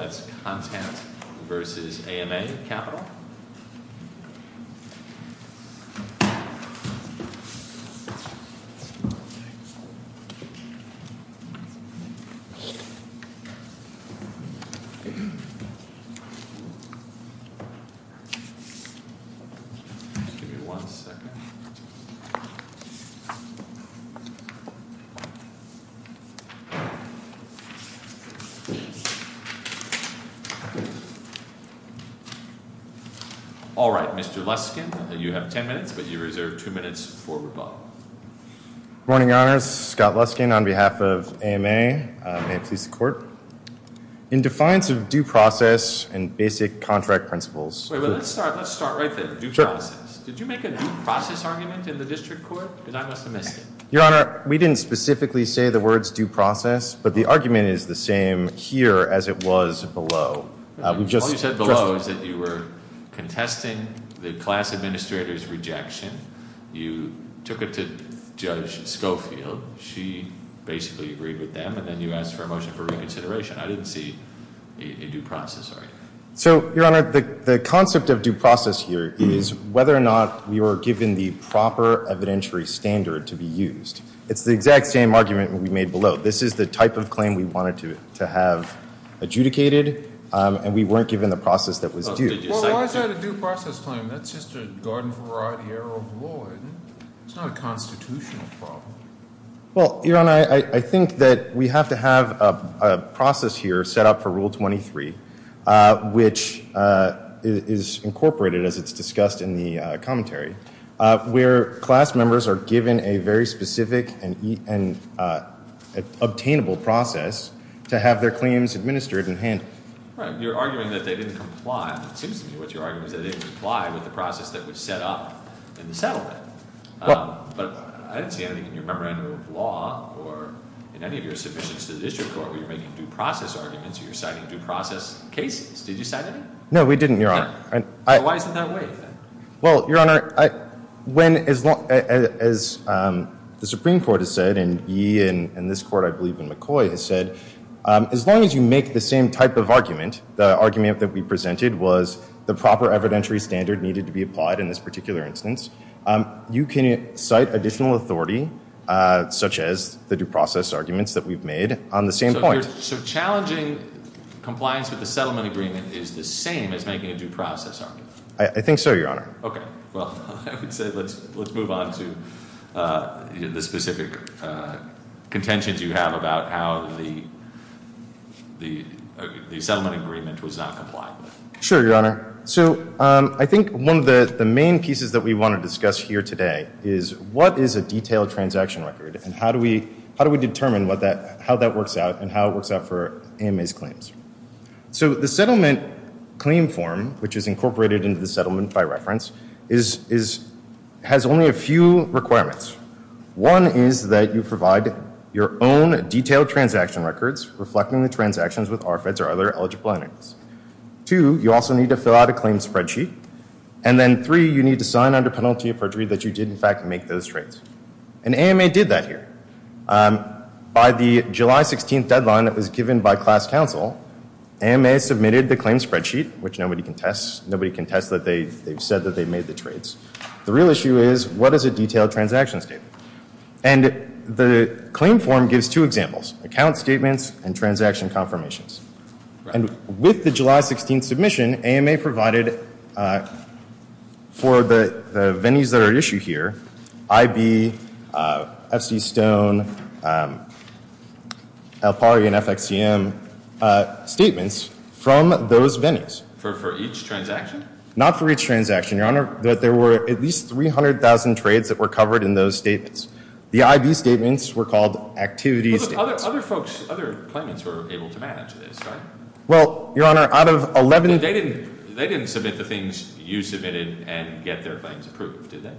That's Contant v. AMA Capital All right, Mr. Luskin, you have ten minutes, but you reserve two minutes for rebuttal. Good morning, Your Honors. Scott Luskin on behalf of AMA. May it please the Court. In defiance of due process and basic contract principles Wait, but let's start right there. Due process. Did you make a due process argument in the District Court? Because I must have missed it. Your Honor, we didn't specifically say the words due process, but the argument is the same here as it was below. All you said below is that you were contesting the class administrator's rejection. You took it to Judge Schofield. She basically agreed with them. And then you asked for a motion for reconsideration. I didn't see a due process argument. So, Your Honor, the concept of due process here is whether or not we were given the proper evidentiary standard to be used. It's the exact same argument we made below. This is the type of claim we wanted to have adjudicated, and we weren't given the process that was due. Well, why is that a due process claim? That's just a Garden-Variety Error of Law. It's not a constitutional problem. Well, Your Honor, I think that we have to have a process here set up for Rule 23, which is incorporated, as it's discussed in the commentary, where class members are given a very specific and obtainable process to have their claims administered in hand. Right. You're arguing that they didn't comply. It seems to me what your argument is that they didn't comply with the process that was set up in the settlement. But I didn't see anything in your Memorandum of Law or in any of your submissions to the District Court where you're making due process arguments or you're citing due process cases. Did you cite any? No, we didn't, Your Honor. Why is it that way, then? Well, Your Honor, as the Supreme Court has said, and ye and this Court, I believe, and McCoy has said, as long as you make the same type of argument, the argument that we presented was the proper evidentiary standard needed to be applied in this particular instance, you can cite additional authority, such as the due process arguments that we've made, on the same point. So challenging compliance with the settlement agreement is the same as making a due process argument? I think so, Your Honor. Okay. Well, I would say let's move on to the specific contentions you have about how the settlement agreement was not complied with. Sure, Your Honor. So I think one of the main pieces that we want to discuss here today is what is a detailed transaction record and how do we determine how that works out and how it works out for AMA's claims? So the settlement claim form, which is incorporated into the settlement by reference, has only a few requirements. One is that you provide your own detailed transaction records reflecting the transactions with RFIDs or other eligible entities. Two, you also need to fill out a claim spreadsheet. And then three, you need to sign under penalty of perjury that you did, in fact, make those trades. And AMA did that here. By the July 16th deadline that was given by class counsel, AMA submitted the claim spreadsheet, which nobody can test. Nobody can test that they said that they made the trades. The real issue is what is a detailed transaction statement? And the claim form gives two examples, account statements and transaction confirmations. And with the July 16th submission, AMA provided for the vennies that are at issue here, IB, FC Stone, Alfari, and FXCM statements from those vennies. For each transaction? Not for each transaction, Your Honor. There were at least 300,000 trades that were covered in those statements. The IB statements were called activity statements. Other folks, other claimants were able to manage this, right? Well, Your Honor, out of 11- They didn't submit the things you submitted and get their claims approved, did they?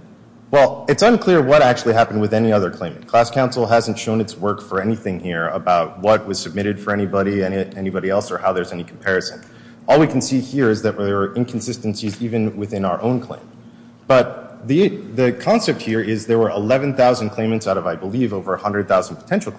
Well, it's unclear what actually happened with any other claimant. Class counsel hasn't shown its work for anything here about what was submitted for anybody, anybody else, or how there's any comparison. All we can see here is that there were inconsistencies even within our own claim. But the concept here is there were 11,000 claimants out of, I believe, over 100,000 potential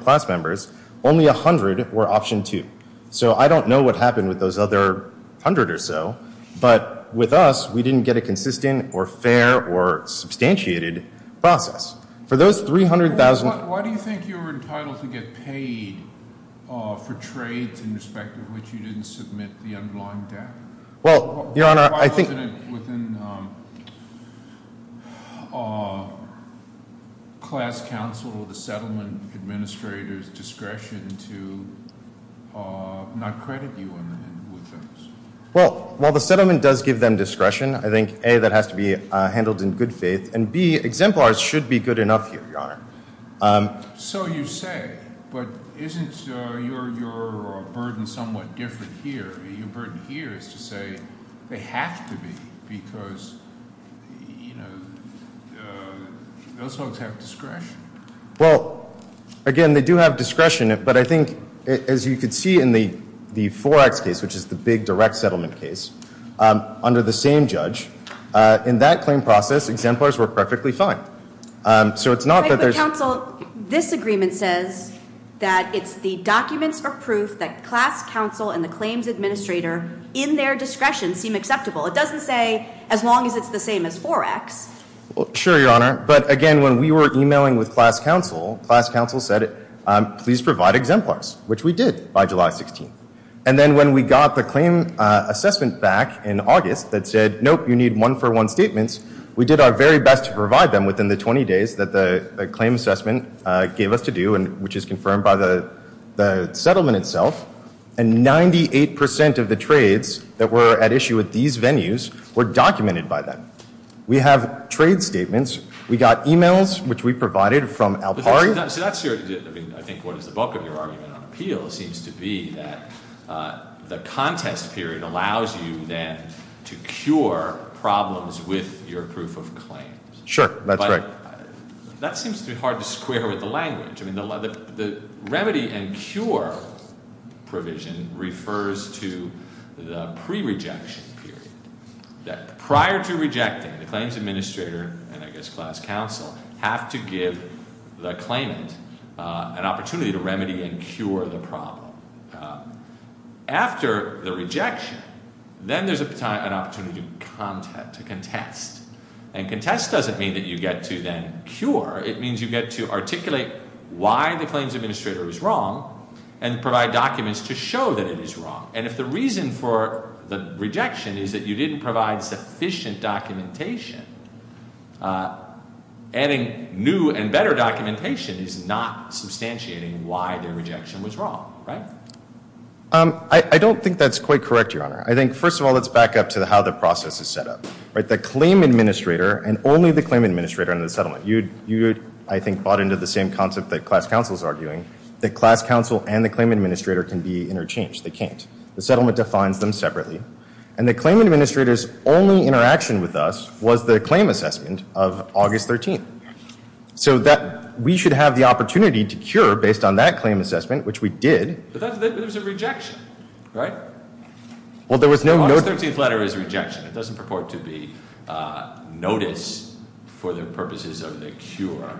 class members. Only 100 were option two. So I don't know what happened with those other 100 or so, but with us, we didn't get a consistent or fair or substantiated process. For those 300,000- Why do you think you were entitled to get paid for trades in respect of which you didn't submit the underlying debt? Well, Your Honor, I think- Why wasn't it within class counsel or the settlement administrator's discretion to not credit you with those? Well, while the settlement does give them discretion, I think, A, that has to be handled in good faith, and, B, exemplars should be good enough here, Your Honor. So you say, but isn't your burden somewhat different here? Your burden here is to say they have to be because those folks have discretion. Well, again, they do have discretion, but I think, as you can see in the Forex case, which is the big direct settlement case, under the same judge, in that claim process, exemplars were perfectly fine. So it's not that there's- that class counsel and the claims administrator, in their discretion, seem acceptable. It doesn't say, as long as it's the same as Forex. Well, sure, Your Honor, but, again, when we were emailing with class counsel, class counsel said, please provide exemplars, which we did by July 16th. And then when we got the claim assessment back in August that said, nope, you need one-for-one statements, we did our very best to provide them within the 20 days that the claim assessment gave us to do, which is confirmed by the settlement itself, and 98 percent of the trades that were at issue at these venues were documented by them. We have trade statements. We got emails, which we provided from Alpari. So that's your- I mean, I think what is the bulk of your argument on appeal seems to be that the contest period allows you, then, to cure problems with your proof of claims. Sure, that's right. That seems to be hard to square with the language. I mean, the remedy and cure provision refers to the pre-rejection period, that prior to rejecting, the claims administrator and, I guess, class counsel, have to give the claimant an opportunity to remedy and cure the problem. After the rejection, then there's an opportunity to contest. And contest doesn't mean that you get to, then, cure. It means you get to articulate why the claims administrator is wrong and provide documents to show that it is wrong. And if the reason for the rejection is that you didn't provide sufficient documentation, adding new and better documentation is not substantiating why the rejection was wrong, right? I don't think that's quite correct, Your Honor. I think, first of all, that's back up to how the process is set up. The claim administrator and only the claim administrator in the settlement. You, I think, bought into the same concept that class counsel is arguing, that class counsel and the claim administrator can be interchanged. They can't. The settlement defines them separately. And the claim administrator's only interaction with us was the claim assessment of August 13th, so that we should have the opportunity to cure based on that claim assessment, which we did. But there was a rejection, right? Well, there was no note. The 13th letter is rejection. It doesn't purport to be notice for the purposes of the cure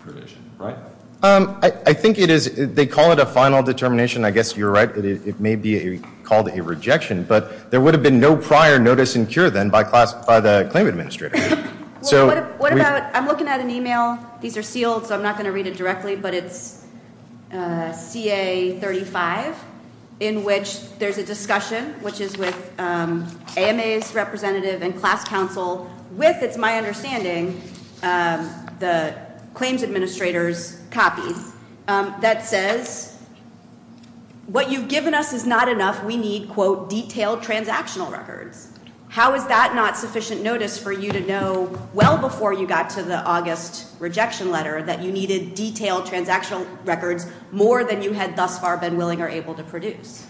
provision, right? I think it is, they call it a final determination. I guess you're right. It may be called a rejection. But there would have been no prior notice and cure then by the claim administrator. What about, I'm looking at an e-mail. These are sealed, so I'm not going to read it directly. But it's CA35, in which there's a discussion, which is with AMA's representative and class counsel, with, it's my understanding, the claims administrator's copies, that says, what you've given us is not enough. We need, quote, detailed transactional records. How is that not sufficient notice for you to know well before you got to the August rejection letter that you needed detailed transactional records more than you had thus far been willing or able to produce?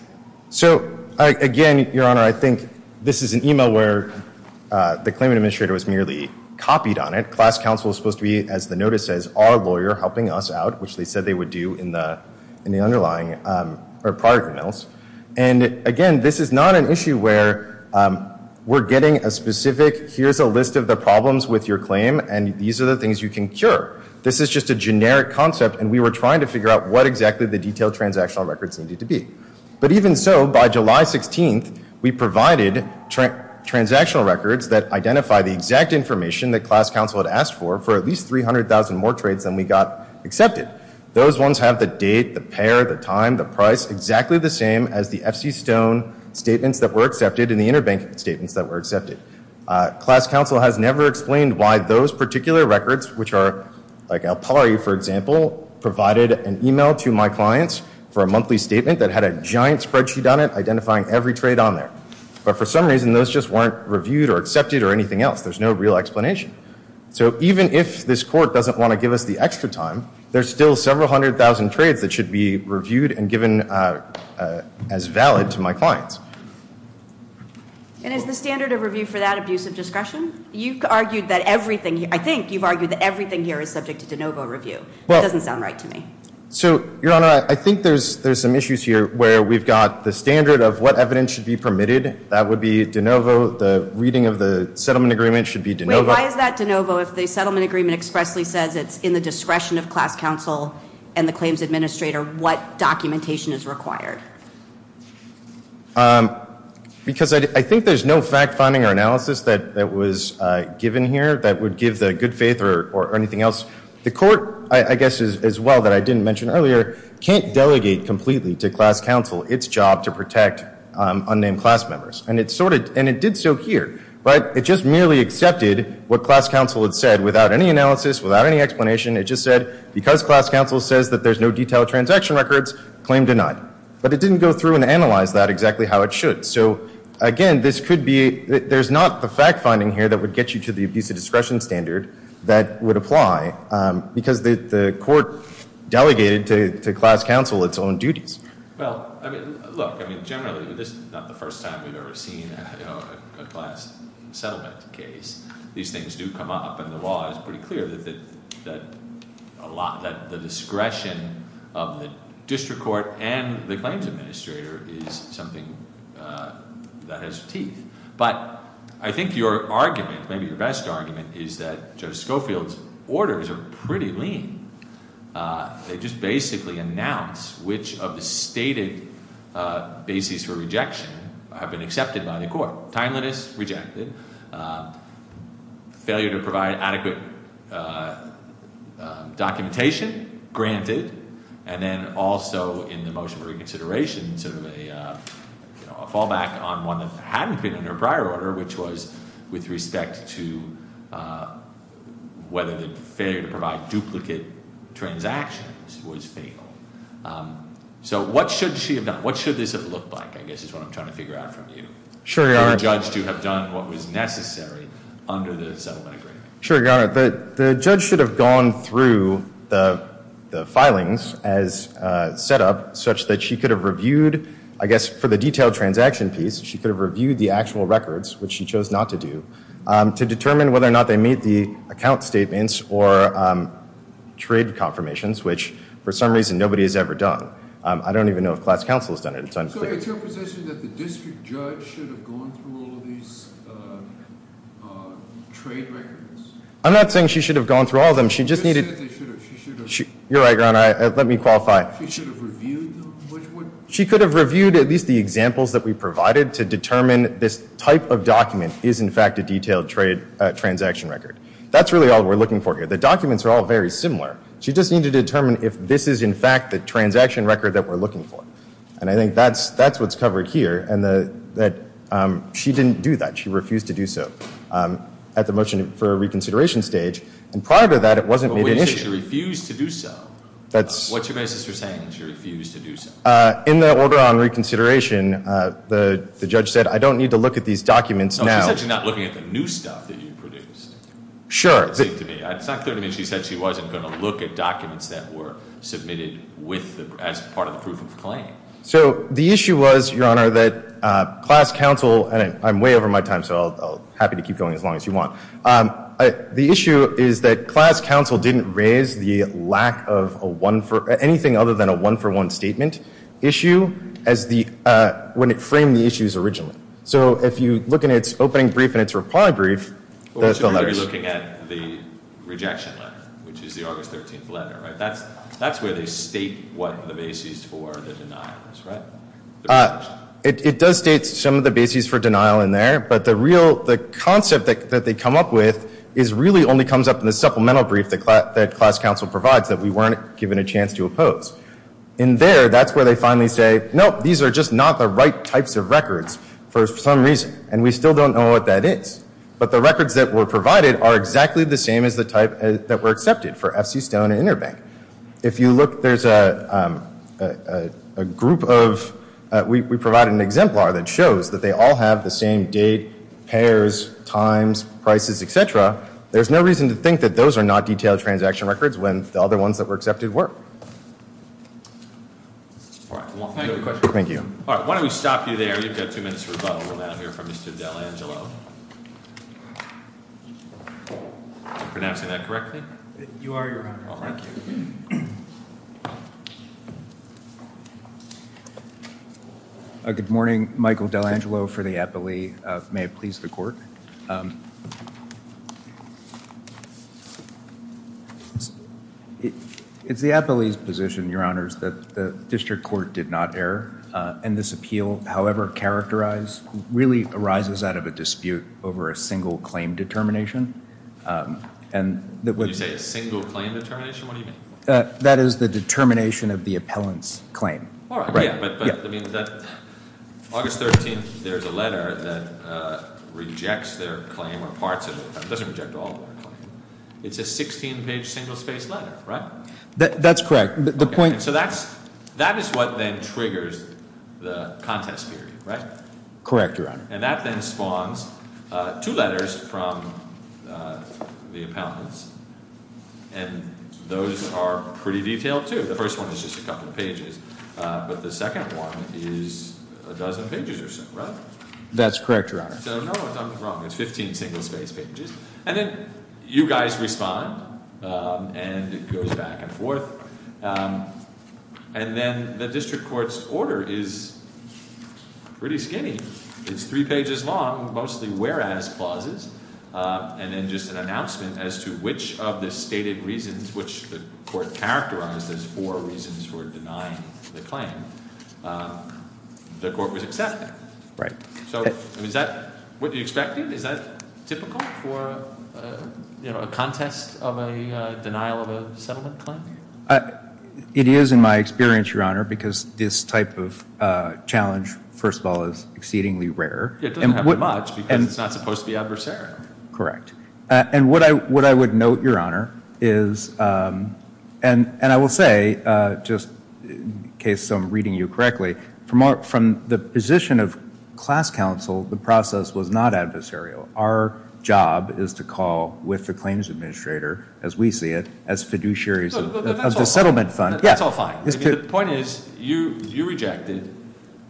So, again, Your Honor, I think this is an e-mail where the claim administrator was merely copied on it. Class counsel is supposed to be, as the notice says, our lawyer helping us out, which they said they would do in the underlying, or prior emails. And, again, this is not an issue where we're getting a specific, here's a list of the problems with your claim, and these are the things you can cure. This is just a generic concept, and we were trying to figure out what exactly the detailed transactional records needed to be. But even so, by July 16th, we provided transactional records that identify the exact information that class counsel had asked for, for at least 300,000 more trades than we got accepted. Those ones have the date, the pair, the time, the price, exactly the same as the FC Stone statements that were accepted and the interbank statements that were accepted. Class counsel has never explained why those particular records, which are like El Pari, for example, provided an e-mail to my clients for a monthly statement that had a giant spreadsheet on it identifying every trade on there. But for some reason, those just weren't reviewed or accepted or anything else. There's no real explanation. So even if this court doesn't want to give us the extra time, there's still several hundred thousand trades that should be reviewed and given as valid to my clients. And is the standard of review for that abuse of discretion? You've argued that everything, I think you've argued that everything here is subject to de novo review. That doesn't sound right to me. So, Your Honor, I think there's some issues here where we've got the standard of what evidence should be permitted. That would be de novo. The reading of the settlement agreement should be de novo. Why is that de novo if the settlement agreement expressly says it's in the discretion of class counsel and the claims administrator what documentation is required? Because I think there's no fact finding or analysis that was given here that would give the good faith or anything else. The court, I guess as well that I didn't mention earlier, can't delegate completely to class counsel its job to protect unnamed class members. And it did so here. But it just merely accepted what class counsel had said without any analysis, without any explanation. It just said because class counsel says that there's no detailed transaction records, claim denied. But it didn't go through and analyze that exactly how it should. So, again, this could be, there's not the fact finding here that would get you to the abuse of discretion standard that would apply because the court delegated to class counsel its own duties. Well, look, generally this is not the first time we've ever seen a class settlement case. These things do come up and the law is pretty clear that the discretion of the district court and the claims administrator is something that has teeth. But I think your argument, maybe your best argument, is that Judge Schofield's orders are pretty lean. They just basically announce which of the stated bases for rejection have been accepted by the court. Timeliness, rejected. Failure to provide adequate documentation, granted. And then also in the motion for reconsideration, sort of a fallback on one that hadn't been in their prior order, which was with respect to whether the failure to provide duplicate transactions was fatal. So what should she have done? What should this have looked like, I guess is what I'm trying to figure out from you. Sure, Your Honor. For the judge to have done what was necessary under the settlement agreement. Sure, Your Honor. The judge should have gone through the filings as set up such that she could have reviewed, I guess for the detailed transaction piece, she could have reviewed the actual records, which she chose not to do, to determine whether or not they meet the account statements or trade confirmations, which for some reason nobody has ever done. I don't even know if class counsel has done it. So it's your position that the district judge should have gone through all of these trade records? I'm not saying she should have gone through all of them. You're right, Your Honor. Let me qualify. She should have reviewed them? She could have reviewed at least the examples that we provided to determine this type of document is, in fact, a detailed transaction record. That's really all we're looking for here. The documents are all very similar. She just needed to determine if this is, in fact, the transaction record that we're looking for. And I think that's what's covered here, and that she didn't do that. She refused to do so at the motion for reconsideration stage, and prior to that it wasn't made an issue. But when you say she refused to do so, what's your basis for saying she refused to do so? In the order on reconsideration, the judge said, I don't need to look at these documents now. She said she's not looking at the new stuff that you produced. Sure. It's not clear to me she said she wasn't going to look at documents that were submitted as part of the proof of claim. So the issue was, Your Honor, that class counsel, and I'm way over my time, so I'm happy to keep going as long as you want. The issue is that class counsel didn't raise the lack of anything other than a one-for-one statement issue when it framed the issues originally. So if you look in its opening brief and its reply brief, that's the letters. You're looking at the rejection letter, which is the August 13th letter, right? That's where they state what the basis for the denial is, right? It does state some of the basis for denial in there. But the concept that they come up with really only comes up in the supplemental brief that class counsel provides that we weren't given a chance to oppose. In there, that's where they finally say, nope, these are just not the right types of records for some reason, and we still don't know what that is. But the records that were provided are exactly the same as the type that were accepted for F.C. Stone and Interbank. If you look, there's a group of ‑‑ we provided an exemplar that shows that they all have the same date, pairs, times, prices, et cetera. There's no reason to think that those are not detailed transaction records when the other ones that were accepted were. Thank you. Why don't we stop you there? You've got two minutes for rebuttal. We'll now hear from Mr. D'Angelo. Am I pronouncing that correctly? You are, Your Honor. All right. Thank you. Good morning. Michael D'Angelo for the appellee. May it please the Court. It's the appellee's position, Your Honors, that the district court did not err. And this appeal, however characterized, really arises out of a dispute over a single claim determination. Did you say a single claim determination? What do you mean? That is the determination of the appellant's claim. All right. But that means that August 13th, there's a letter that rejects their claim or parts of it. It doesn't reject all of their claim. It's a 16‑page, single‑spaced letter, right? That's correct. So that is what then triggers the contest period, right? Correct, Your Honor. And that then spawns two letters from the appellants. And those are pretty detailed, too. The first one is just a couple of pages. But the second one is a dozen pages or so, right? That's correct, Your Honor. So, no, I'm wrong. It's 15 single‑spaced pages. And then you guys respond. And it goes back and forth. And then the district court's order is pretty skinny. It's three pages long, mostly whereas clauses. And then just an announcement as to which of the stated reasons, which the court characterized as four reasons for denying the claim, the court was accepted. Right. So is that what you expected? Is that typical for, you know, a contest of a denial of a settlement claim? It is in my experience, Your Honor, because this type of challenge, first of all, is exceedingly rare. It doesn't happen much because it's not supposed to be adversarial. Correct. And what I would note, Your Honor, is, and I will say, just in case I'm reading you correctly, from the position of class counsel, the process was not adversarial. Our job is to call with the claims administrator, as we see it, as fiduciaries of the settlement fund. That's all fine. The point is you rejected,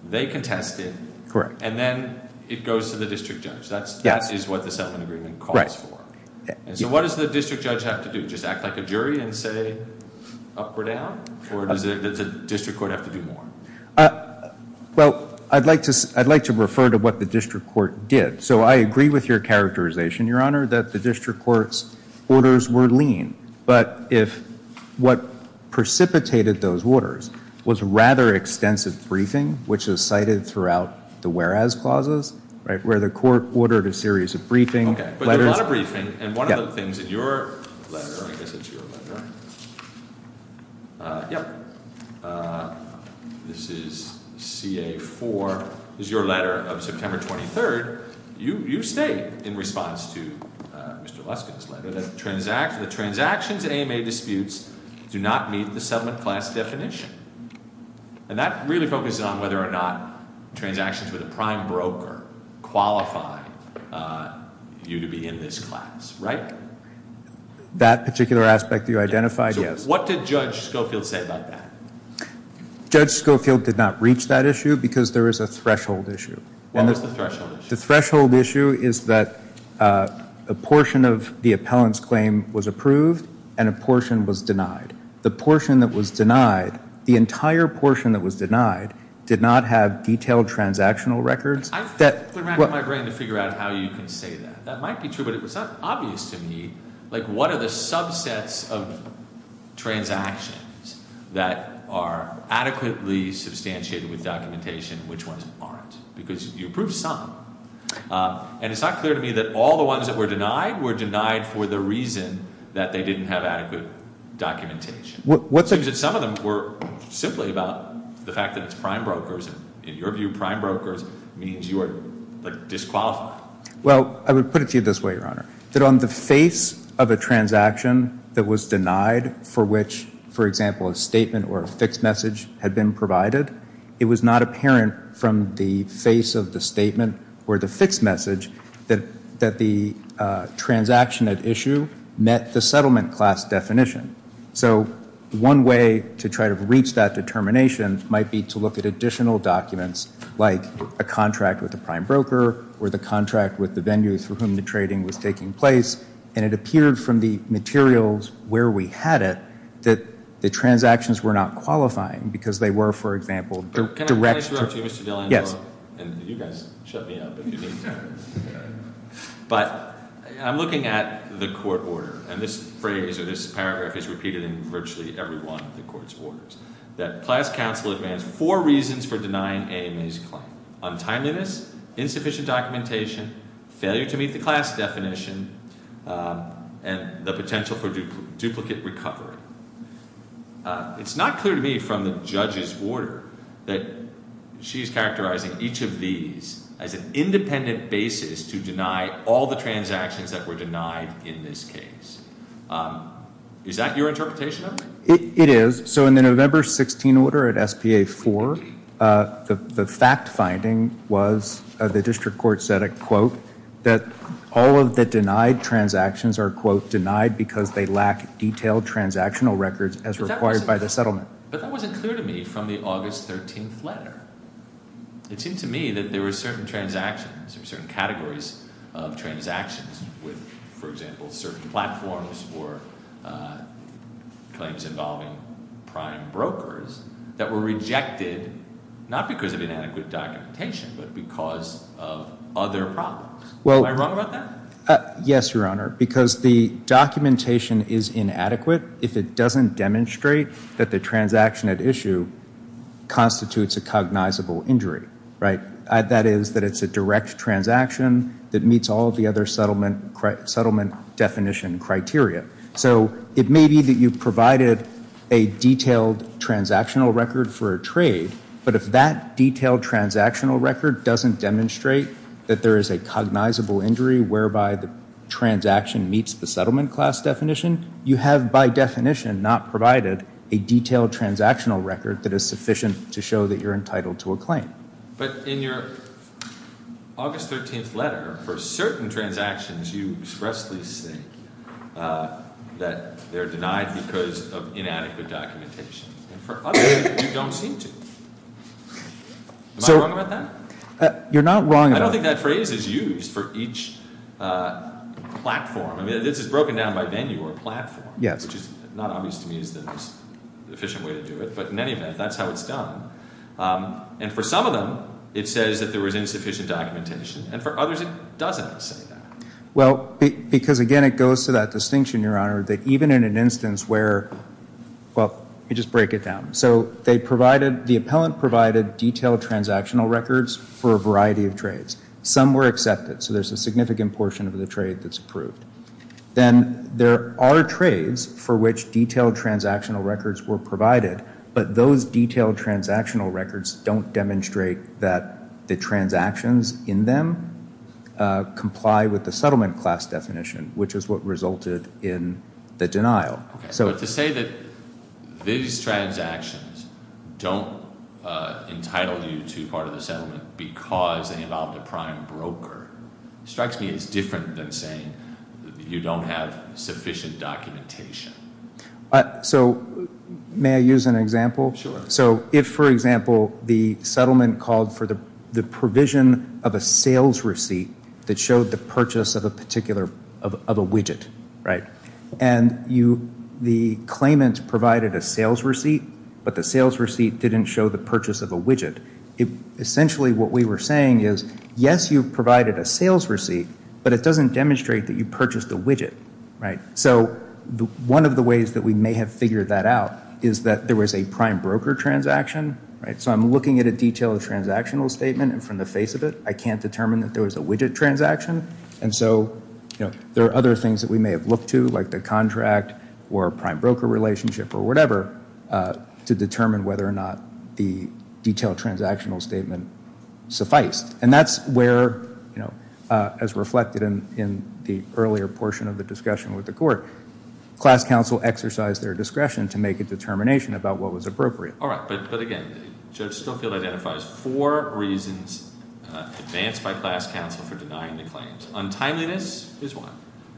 they contested, and then it goes to the district judge. That is what the settlement agreement calls for. So what does the district judge have to do? Just act like a jury and say up or down? Or does the district court have to do more? Well, I'd like to refer to what the district court did. So I agree with your characterization, Your Honor, that the district court's orders were lean. But if what precipitated those orders was rather extensive briefing, which is cited throughout the whereas clauses, right, where the court ordered a series of briefing. Okay. But there's a lot of briefing. And one of the things in your letter, I guess it's your letter. Yep. This is CA4. This is your letter of September 23rd. You state in response to Mr. Luskin's letter that the transactions AMA disputes do not meet the settlement class definition. And that really focuses on whether or not transactions with a prime broker qualify you to be in this class, right? That particular aspect you identified, yes. What did Judge Schofield say about that? Judge Schofield did not reach that issue because there is a threshold issue. What was the threshold issue? The threshold issue is that a portion of the appellant's claim was approved and a portion was denied. The portion that was denied, the entire portion that was denied, did not have detailed transactional records. I've been racking my brain to figure out how you can say that. That might be true, but it's not obvious to me. Like what are the subsets of transactions that are adequately substantiated with documentation and which ones aren't? Because you approved some. And it's not clear to me that all the ones that were denied were denied for the reason that they didn't have adequate documentation. Some of them were simply about the fact that it's prime brokers. In your view, prime brokers means you are disqualified. Well, I would put it to you this way, Your Honor. That on the face of a transaction that was denied for which, for example, a statement or a fixed message had been provided, it was not apparent from the face of the statement or the fixed message that the transaction at issue met the settlement class definition. So one way to try to reach that determination might be to look at additional documents like a contract with a prime broker or the contract with the venue through whom the trading was taking place, and it appeared from the materials where we had it that the transactions were not qualifying because they were, for example, direct. Can I interrupt you, Mr. Dillon? Yes. And you guys shut me up if you need to. But I'm looking at the court order, and this phrase or this paragraph is repeated in virtually every one of the court's orders, that class counsel demands four reasons for denying AMA's claim, untimeliness, insufficient documentation, failure to meet the class definition, and the potential for duplicate recovery. It's not clear to me from the judge's order that she's characterizing each of these as an independent basis to deny all the transactions that were denied in this case. Is that your interpretation of it? It is. So in the November 16 order at SPA 4, the fact finding was the district court said, quote, that all of the denied transactions are, quote, denied because they lack detailed transactional records as required by the settlement. But that wasn't clear to me from the August 13th letter. It seemed to me that there were certain transactions or certain categories of transactions with, for example, certain platforms for claims involving prime brokers that were rejected not because of inadequate documentation but because of other problems. Am I wrong about that? Yes, Your Honor, because the documentation is inadequate if it doesn't demonstrate that the transaction at issue constitutes a cognizable injury. That is, that it's a direct transaction that meets all of the other settlement definition criteria. So it may be that you provided a detailed transactional record for a trade, but if that detailed transactional record doesn't demonstrate that there is a cognizable injury whereby the transaction meets the settlement class definition, you have, by definition, not provided a detailed transactional record that is sufficient to show that you're entitled to a claim. But in your August 13th letter, for certain transactions, you expressly say that they're denied because of inadequate documentation. And for others, you don't seem to. Am I wrong about that? You're not wrong about that. I don't think that phrase is used for each platform. I mean, this is broken down by venue or platform, which is not obvious to me as the most efficient way to do it. But in any event, that's how it's done. And for some of them, it says that there was insufficient documentation. And for others, it doesn't say that. Well, because, again, it goes to that distinction, Your Honor, that even in an instance where, well, let me just break it down. So they provided, the appellant provided detailed transactional records for a variety of trades. Some were accepted. So there's a significant portion of the trade that's approved. Then there are trades for which detailed transactional records were provided, but those detailed transactional records don't demonstrate that the transactions in them comply with the settlement class definition, which is what resulted in the denial. But to say that these transactions don't entitle you to part of the settlement because they involve the prime broker, strikes me as different than saying you don't have sufficient documentation. So may I use an example? Sure. So if, for example, the settlement called for the provision of a sales receipt that showed the purchase of a particular, of a widget, right? And the claimant provided a sales receipt, but the sales receipt didn't show the purchase of a widget. Essentially, what we were saying is, yes, you provided a sales receipt, but it doesn't demonstrate that you purchased a widget, right? So one of the ways that we may have figured that out is that there was a prime broker transaction, right? So I'm looking at a detailed transactional statement, and from the face of it, I can't determine that there was a widget transaction. And so there are other things that we may have looked to, like the contract or a prime broker relationship or whatever, to determine whether or not the detailed transactional statement sufficed. And that's where, as reflected in the earlier portion of the discussion with the court, class counsel exercised their discretion to make a determination about what was appropriate. All right, but again, Judge Snowfield identifies four reasons advanced by class counsel for denying the claims. Untimeliness is one.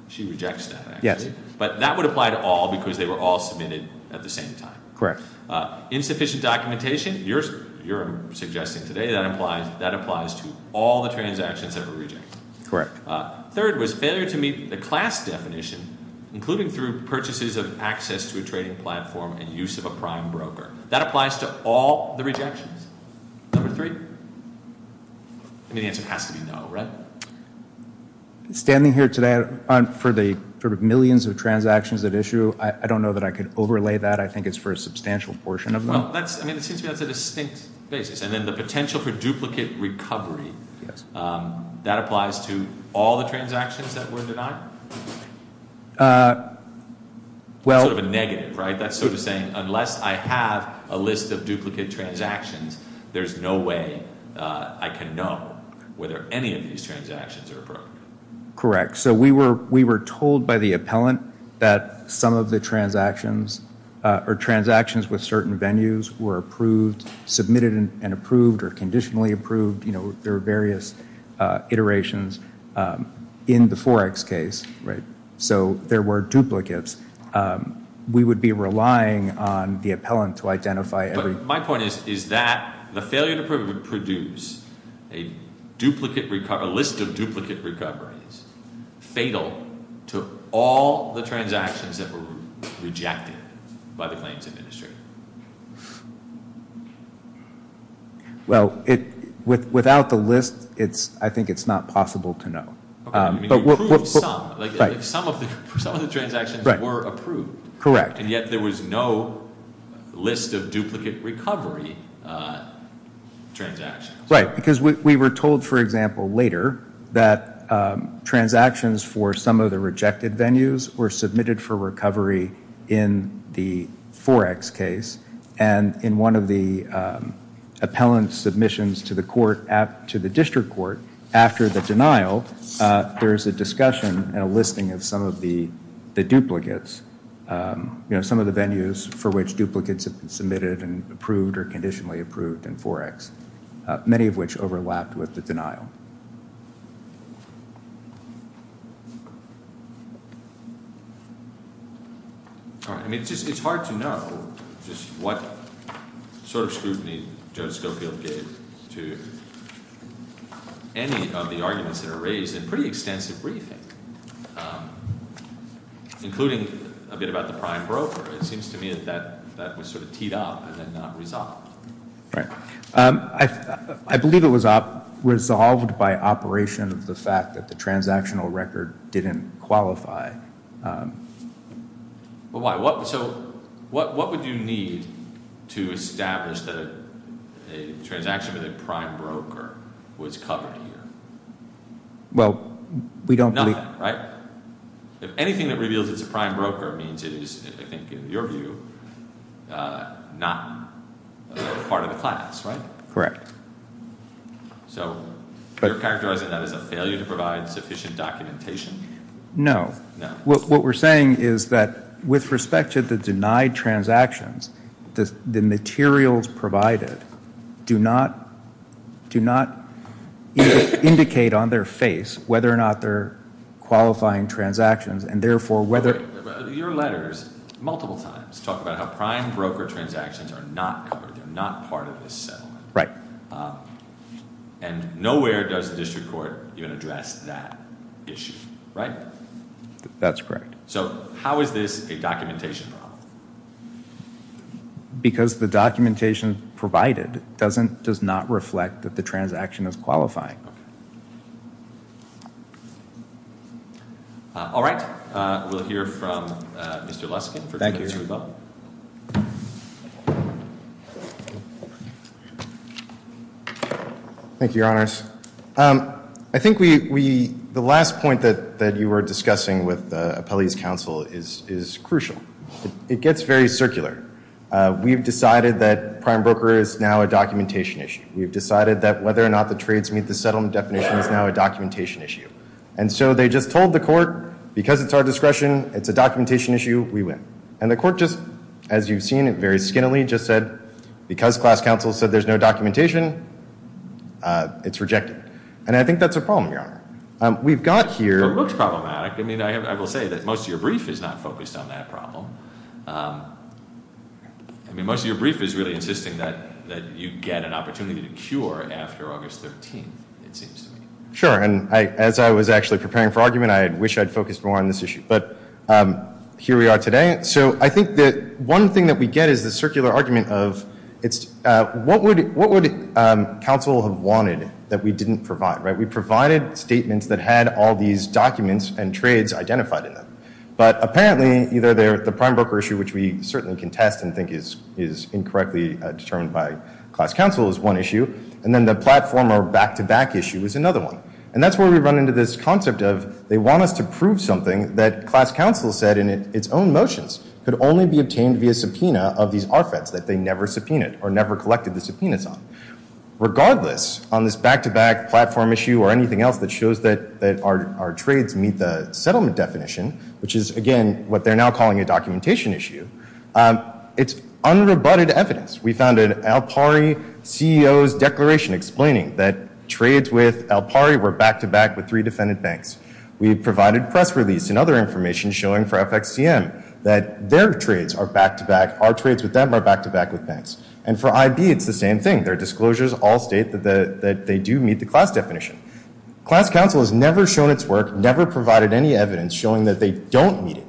She rejects that, actually. Yes. But that would apply to all because they were all submitted at the same time. Correct. Insufficient documentation. You're suggesting today that applies to all the transactions that were rejected. Correct. Third was failure to meet the class definition, including through purchases of access to a trading platform and use of a prime broker. That applies to all the rejections. Number three? I mean, the answer has to be no, right? Standing here today for the sort of millions of transactions at issue, I don't know that I could overlay that. I think it's for a substantial portion of them. Well, I mean, it seems to me that's a distinct basis. And then the potential for duplicate recovery, that applies to all the transactions that were denied? Sort of a negative, right? That's sort of saying unless I have a list of duplicate transactions, there's no way I can know whether any of these transactions are appropriate. Correct. So we were told by the appellant that some of the transactions or transactions with certain venues were approved, submitted and approved, or conditionally approved. There were various iterations in the Forex case, right? So there were duplicates. We would be relying on the appellant to identify every- But my point is that the failure to approve would produce a list of duplicate recoveries fatal to all the transactions that were rejected by the claims administrator. Well, without the list, I think it's not possible to know. You approved some. Right. Some of the transactions were approved. Correct. And yet there was no list of duplicate recovery transactions. Right, because we were told, for example, later that transactions for some of the rejected venues were submitted for recovery in the Forex case. And in one of the appellant's submissions to the court, to the district court, after the denial, there's a discussion and a listing of some of the duplicates. You know, some of the venues for which duplicates have been submitted and approved or conditionally approved in Forex, many of which overlapped with the denial. All right. I mean, it's hard to know just what sort of scrutiny Joe Schofield gave to any of the arguments that are raised in pretty extensive briefing, including a bit about the prime broker. It seems to me that that was sort of teed up and then not resolved. Right. I believe it was resolved by operation of the fact that the transactional record didn't qualify. But why? So what would you need to establish that a transaction with a prime broker was covered here? Well, we don't. None, right? If anything that reveals it's a prime broker means it is, I think in your view, not part of the class, right? Correct. So you're characterizing that as a failure to provide sufficient documentation? No. What we're saying is that with respect to the denied transactions, the materials provided do not indicate on their face whether or not they're qualifying transactions and therefore whether. Your letters multiple times talk about how prime broker transactions are not covered. They're not part of this settlement. Right. And nowhere does the district court even address that issue. Right? That's correct. So how is this a documentation problem? Because the documentation provided does not reflect that the transaction is qualifying. All right. We'll hear from Mr. Luskin. Thank you. Thank you, Your Honors. I think the last point that you were discussing with the appellee's counsel is crucial. It gets very circular. We've decided that prime broker is now a documentation issue. We've decided that whether or not the trades meet the settlement definition is now a documentation issue. And so they just told the court, because it's our discretion, it's a documentation issue, we win. And the court just, as you've seen it very skinnily, just said, because class counsel said there's no documentation, it's rejected. And I think that's a problem, Your Honor. We've got here. It looks problematic. I mean, I will say that most of your brief is not focused on that problem. I mean, most of your brief is really insisting that you get an opportunity to cure after August 13th, it seems to me. Sure. And as I was actually preparing for argument, I wish I'd focused more on this issue. But here we are today. So I think that one thing that we get is the circular argument of what would counsel have wanted that we didn't provide, right? We provided statements that had all these documents and trades identified in them. But apparently, either the prime broker issue, which we certainly contest and think is incorrectly determined by class counsel, is one issue. And then the platform or back-to-back issue is another one. And that's where we run into this concept of they want us to prove something that class counsel said in its own motions could only be obtained via subpoena of these RFEDs that they never subpoenaed or never collected the subpoenas on. Regardless, on this back-to-back platform issue or anything else that shows that our trades meet the settlement definition, which is, again, what they're now calling a documentation issue, it's unrebutted evidence. We found an Alpari CEO's declaration explaining that trades with Alpari were back-to-back with three defendant banks. We provided press release and other information showing for FXCM that their trades are back-to-back. Our trades with them are back-to-back with banks. And for IB, it's the same thing. Their disclosures all state that they do meet the class definition. Class counsel has never shown its work, never provided any evidence showing that they don't meet it.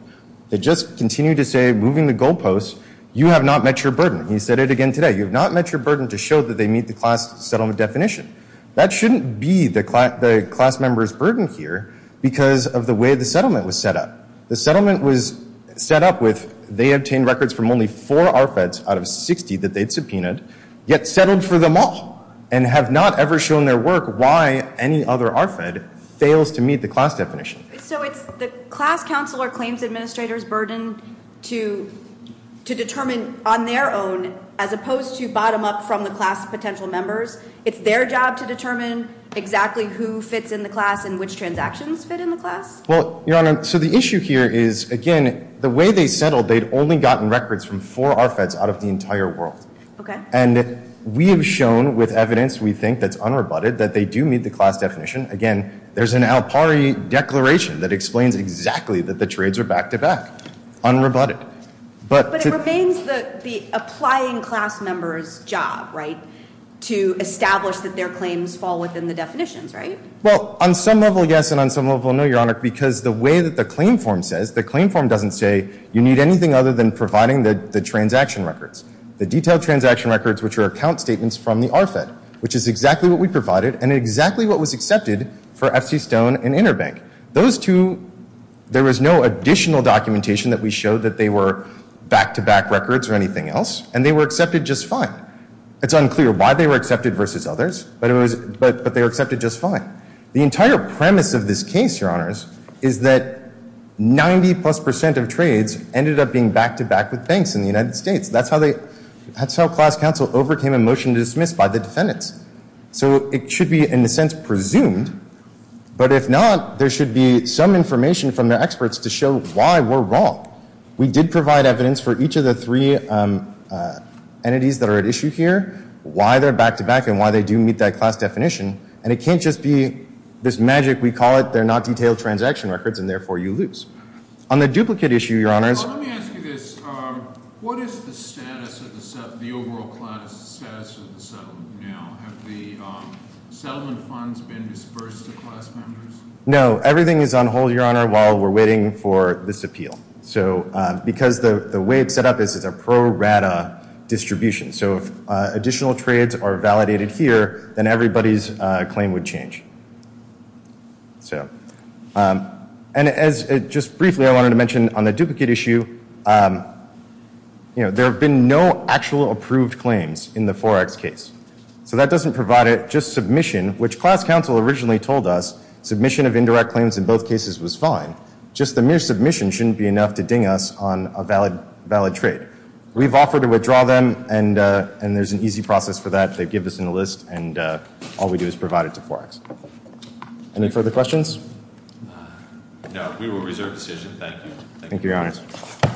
They just continue to say, moving the goalposts, you have not met your burden. He said it again today. You have not met your burden to show that they meet the class settlement definition. That shouldn't be the class member's burden here because of the way the settlement was set up. The settlement was set up with they obtained records from only four RFEDs out of 60 that they'd subpoenaed, yet settled for them all and have not ever shown their work why any other RFED fails to meet the class definition. So it's the class counsel or claims administrator's burden to determine on their own, as opposed to bottom-up from the class potential members. It's their job to determine exactly who fits in the class and which transactions fit in the class? Well, Your Honor, so the issue here is, again, the way they settled, they'd only gotten records from four RFEDs out of the entire world. Okay. And we have shown with evidence we think that's unrebutted that they do meet the class definition. Again, there's an ALPARI declaration that explains exactly that the trades are back-to-back, unrebutted. But it remains the applying class member's job, right, to establish that their claims fall within the definitions, right? Well, on some level, yes, and on some level, no, Your Honor, because the way that the claim form says, the claim form doesn't say you need anything other than providing the transaction records, the detailed transaction records, which are account statements from the RFED, which is exactly what we provided and exactly what was accepted for FC Stone and Interbank. Those two, there was no additional documentation that we showed that they were back-to-back records or anything else, and they were accepted just fine. It's unclear why they were accepted versus others, but they were accepted just fine. The entire premise of this case, Your Honors, is that 90-plus percent of trades ended up being back-to-back with banks in the United States. That's how class counsel overcame a motion to dismiss by the defendants. So it should be, in a sense, presumed, but if not, there should be some information from the experts to show why we're wrong. We did provide evidence for each of the three entities that are at issue here, why they're back-to-back and why they do meet that class definition, and it can't just be this magic, we call it, they're not detailed transaction records, and therefore you lose. On the duplicate issue, Your Honors. Let me ask you this. What is the status of the overall class, the status of the settlement now? Have the settlement funds been disbursed to class members? No. Everything is on hold, Your Honor, while we're waiting for this appeal. So because the way it's set up is it's a pro-rata distribution. So if additional trades are validated here, then everybody's claim would change. And just briefly, I wanted to mention on the duplicate issue, there have been no actual approved claims in the 4X case. So that doesn't provide it, just submission, which class counsel originally told us, submission of indirect claims in both cases was fine. Just the mere submission shouldn't be enough to ding us on a valid trade. We've offered to withdraw them, and there's an easy process for that. They give this in a list, and all we do is provide it to 4X. Any further questions? No. We will reserve the session. Thank you. Thank you, Your Honors.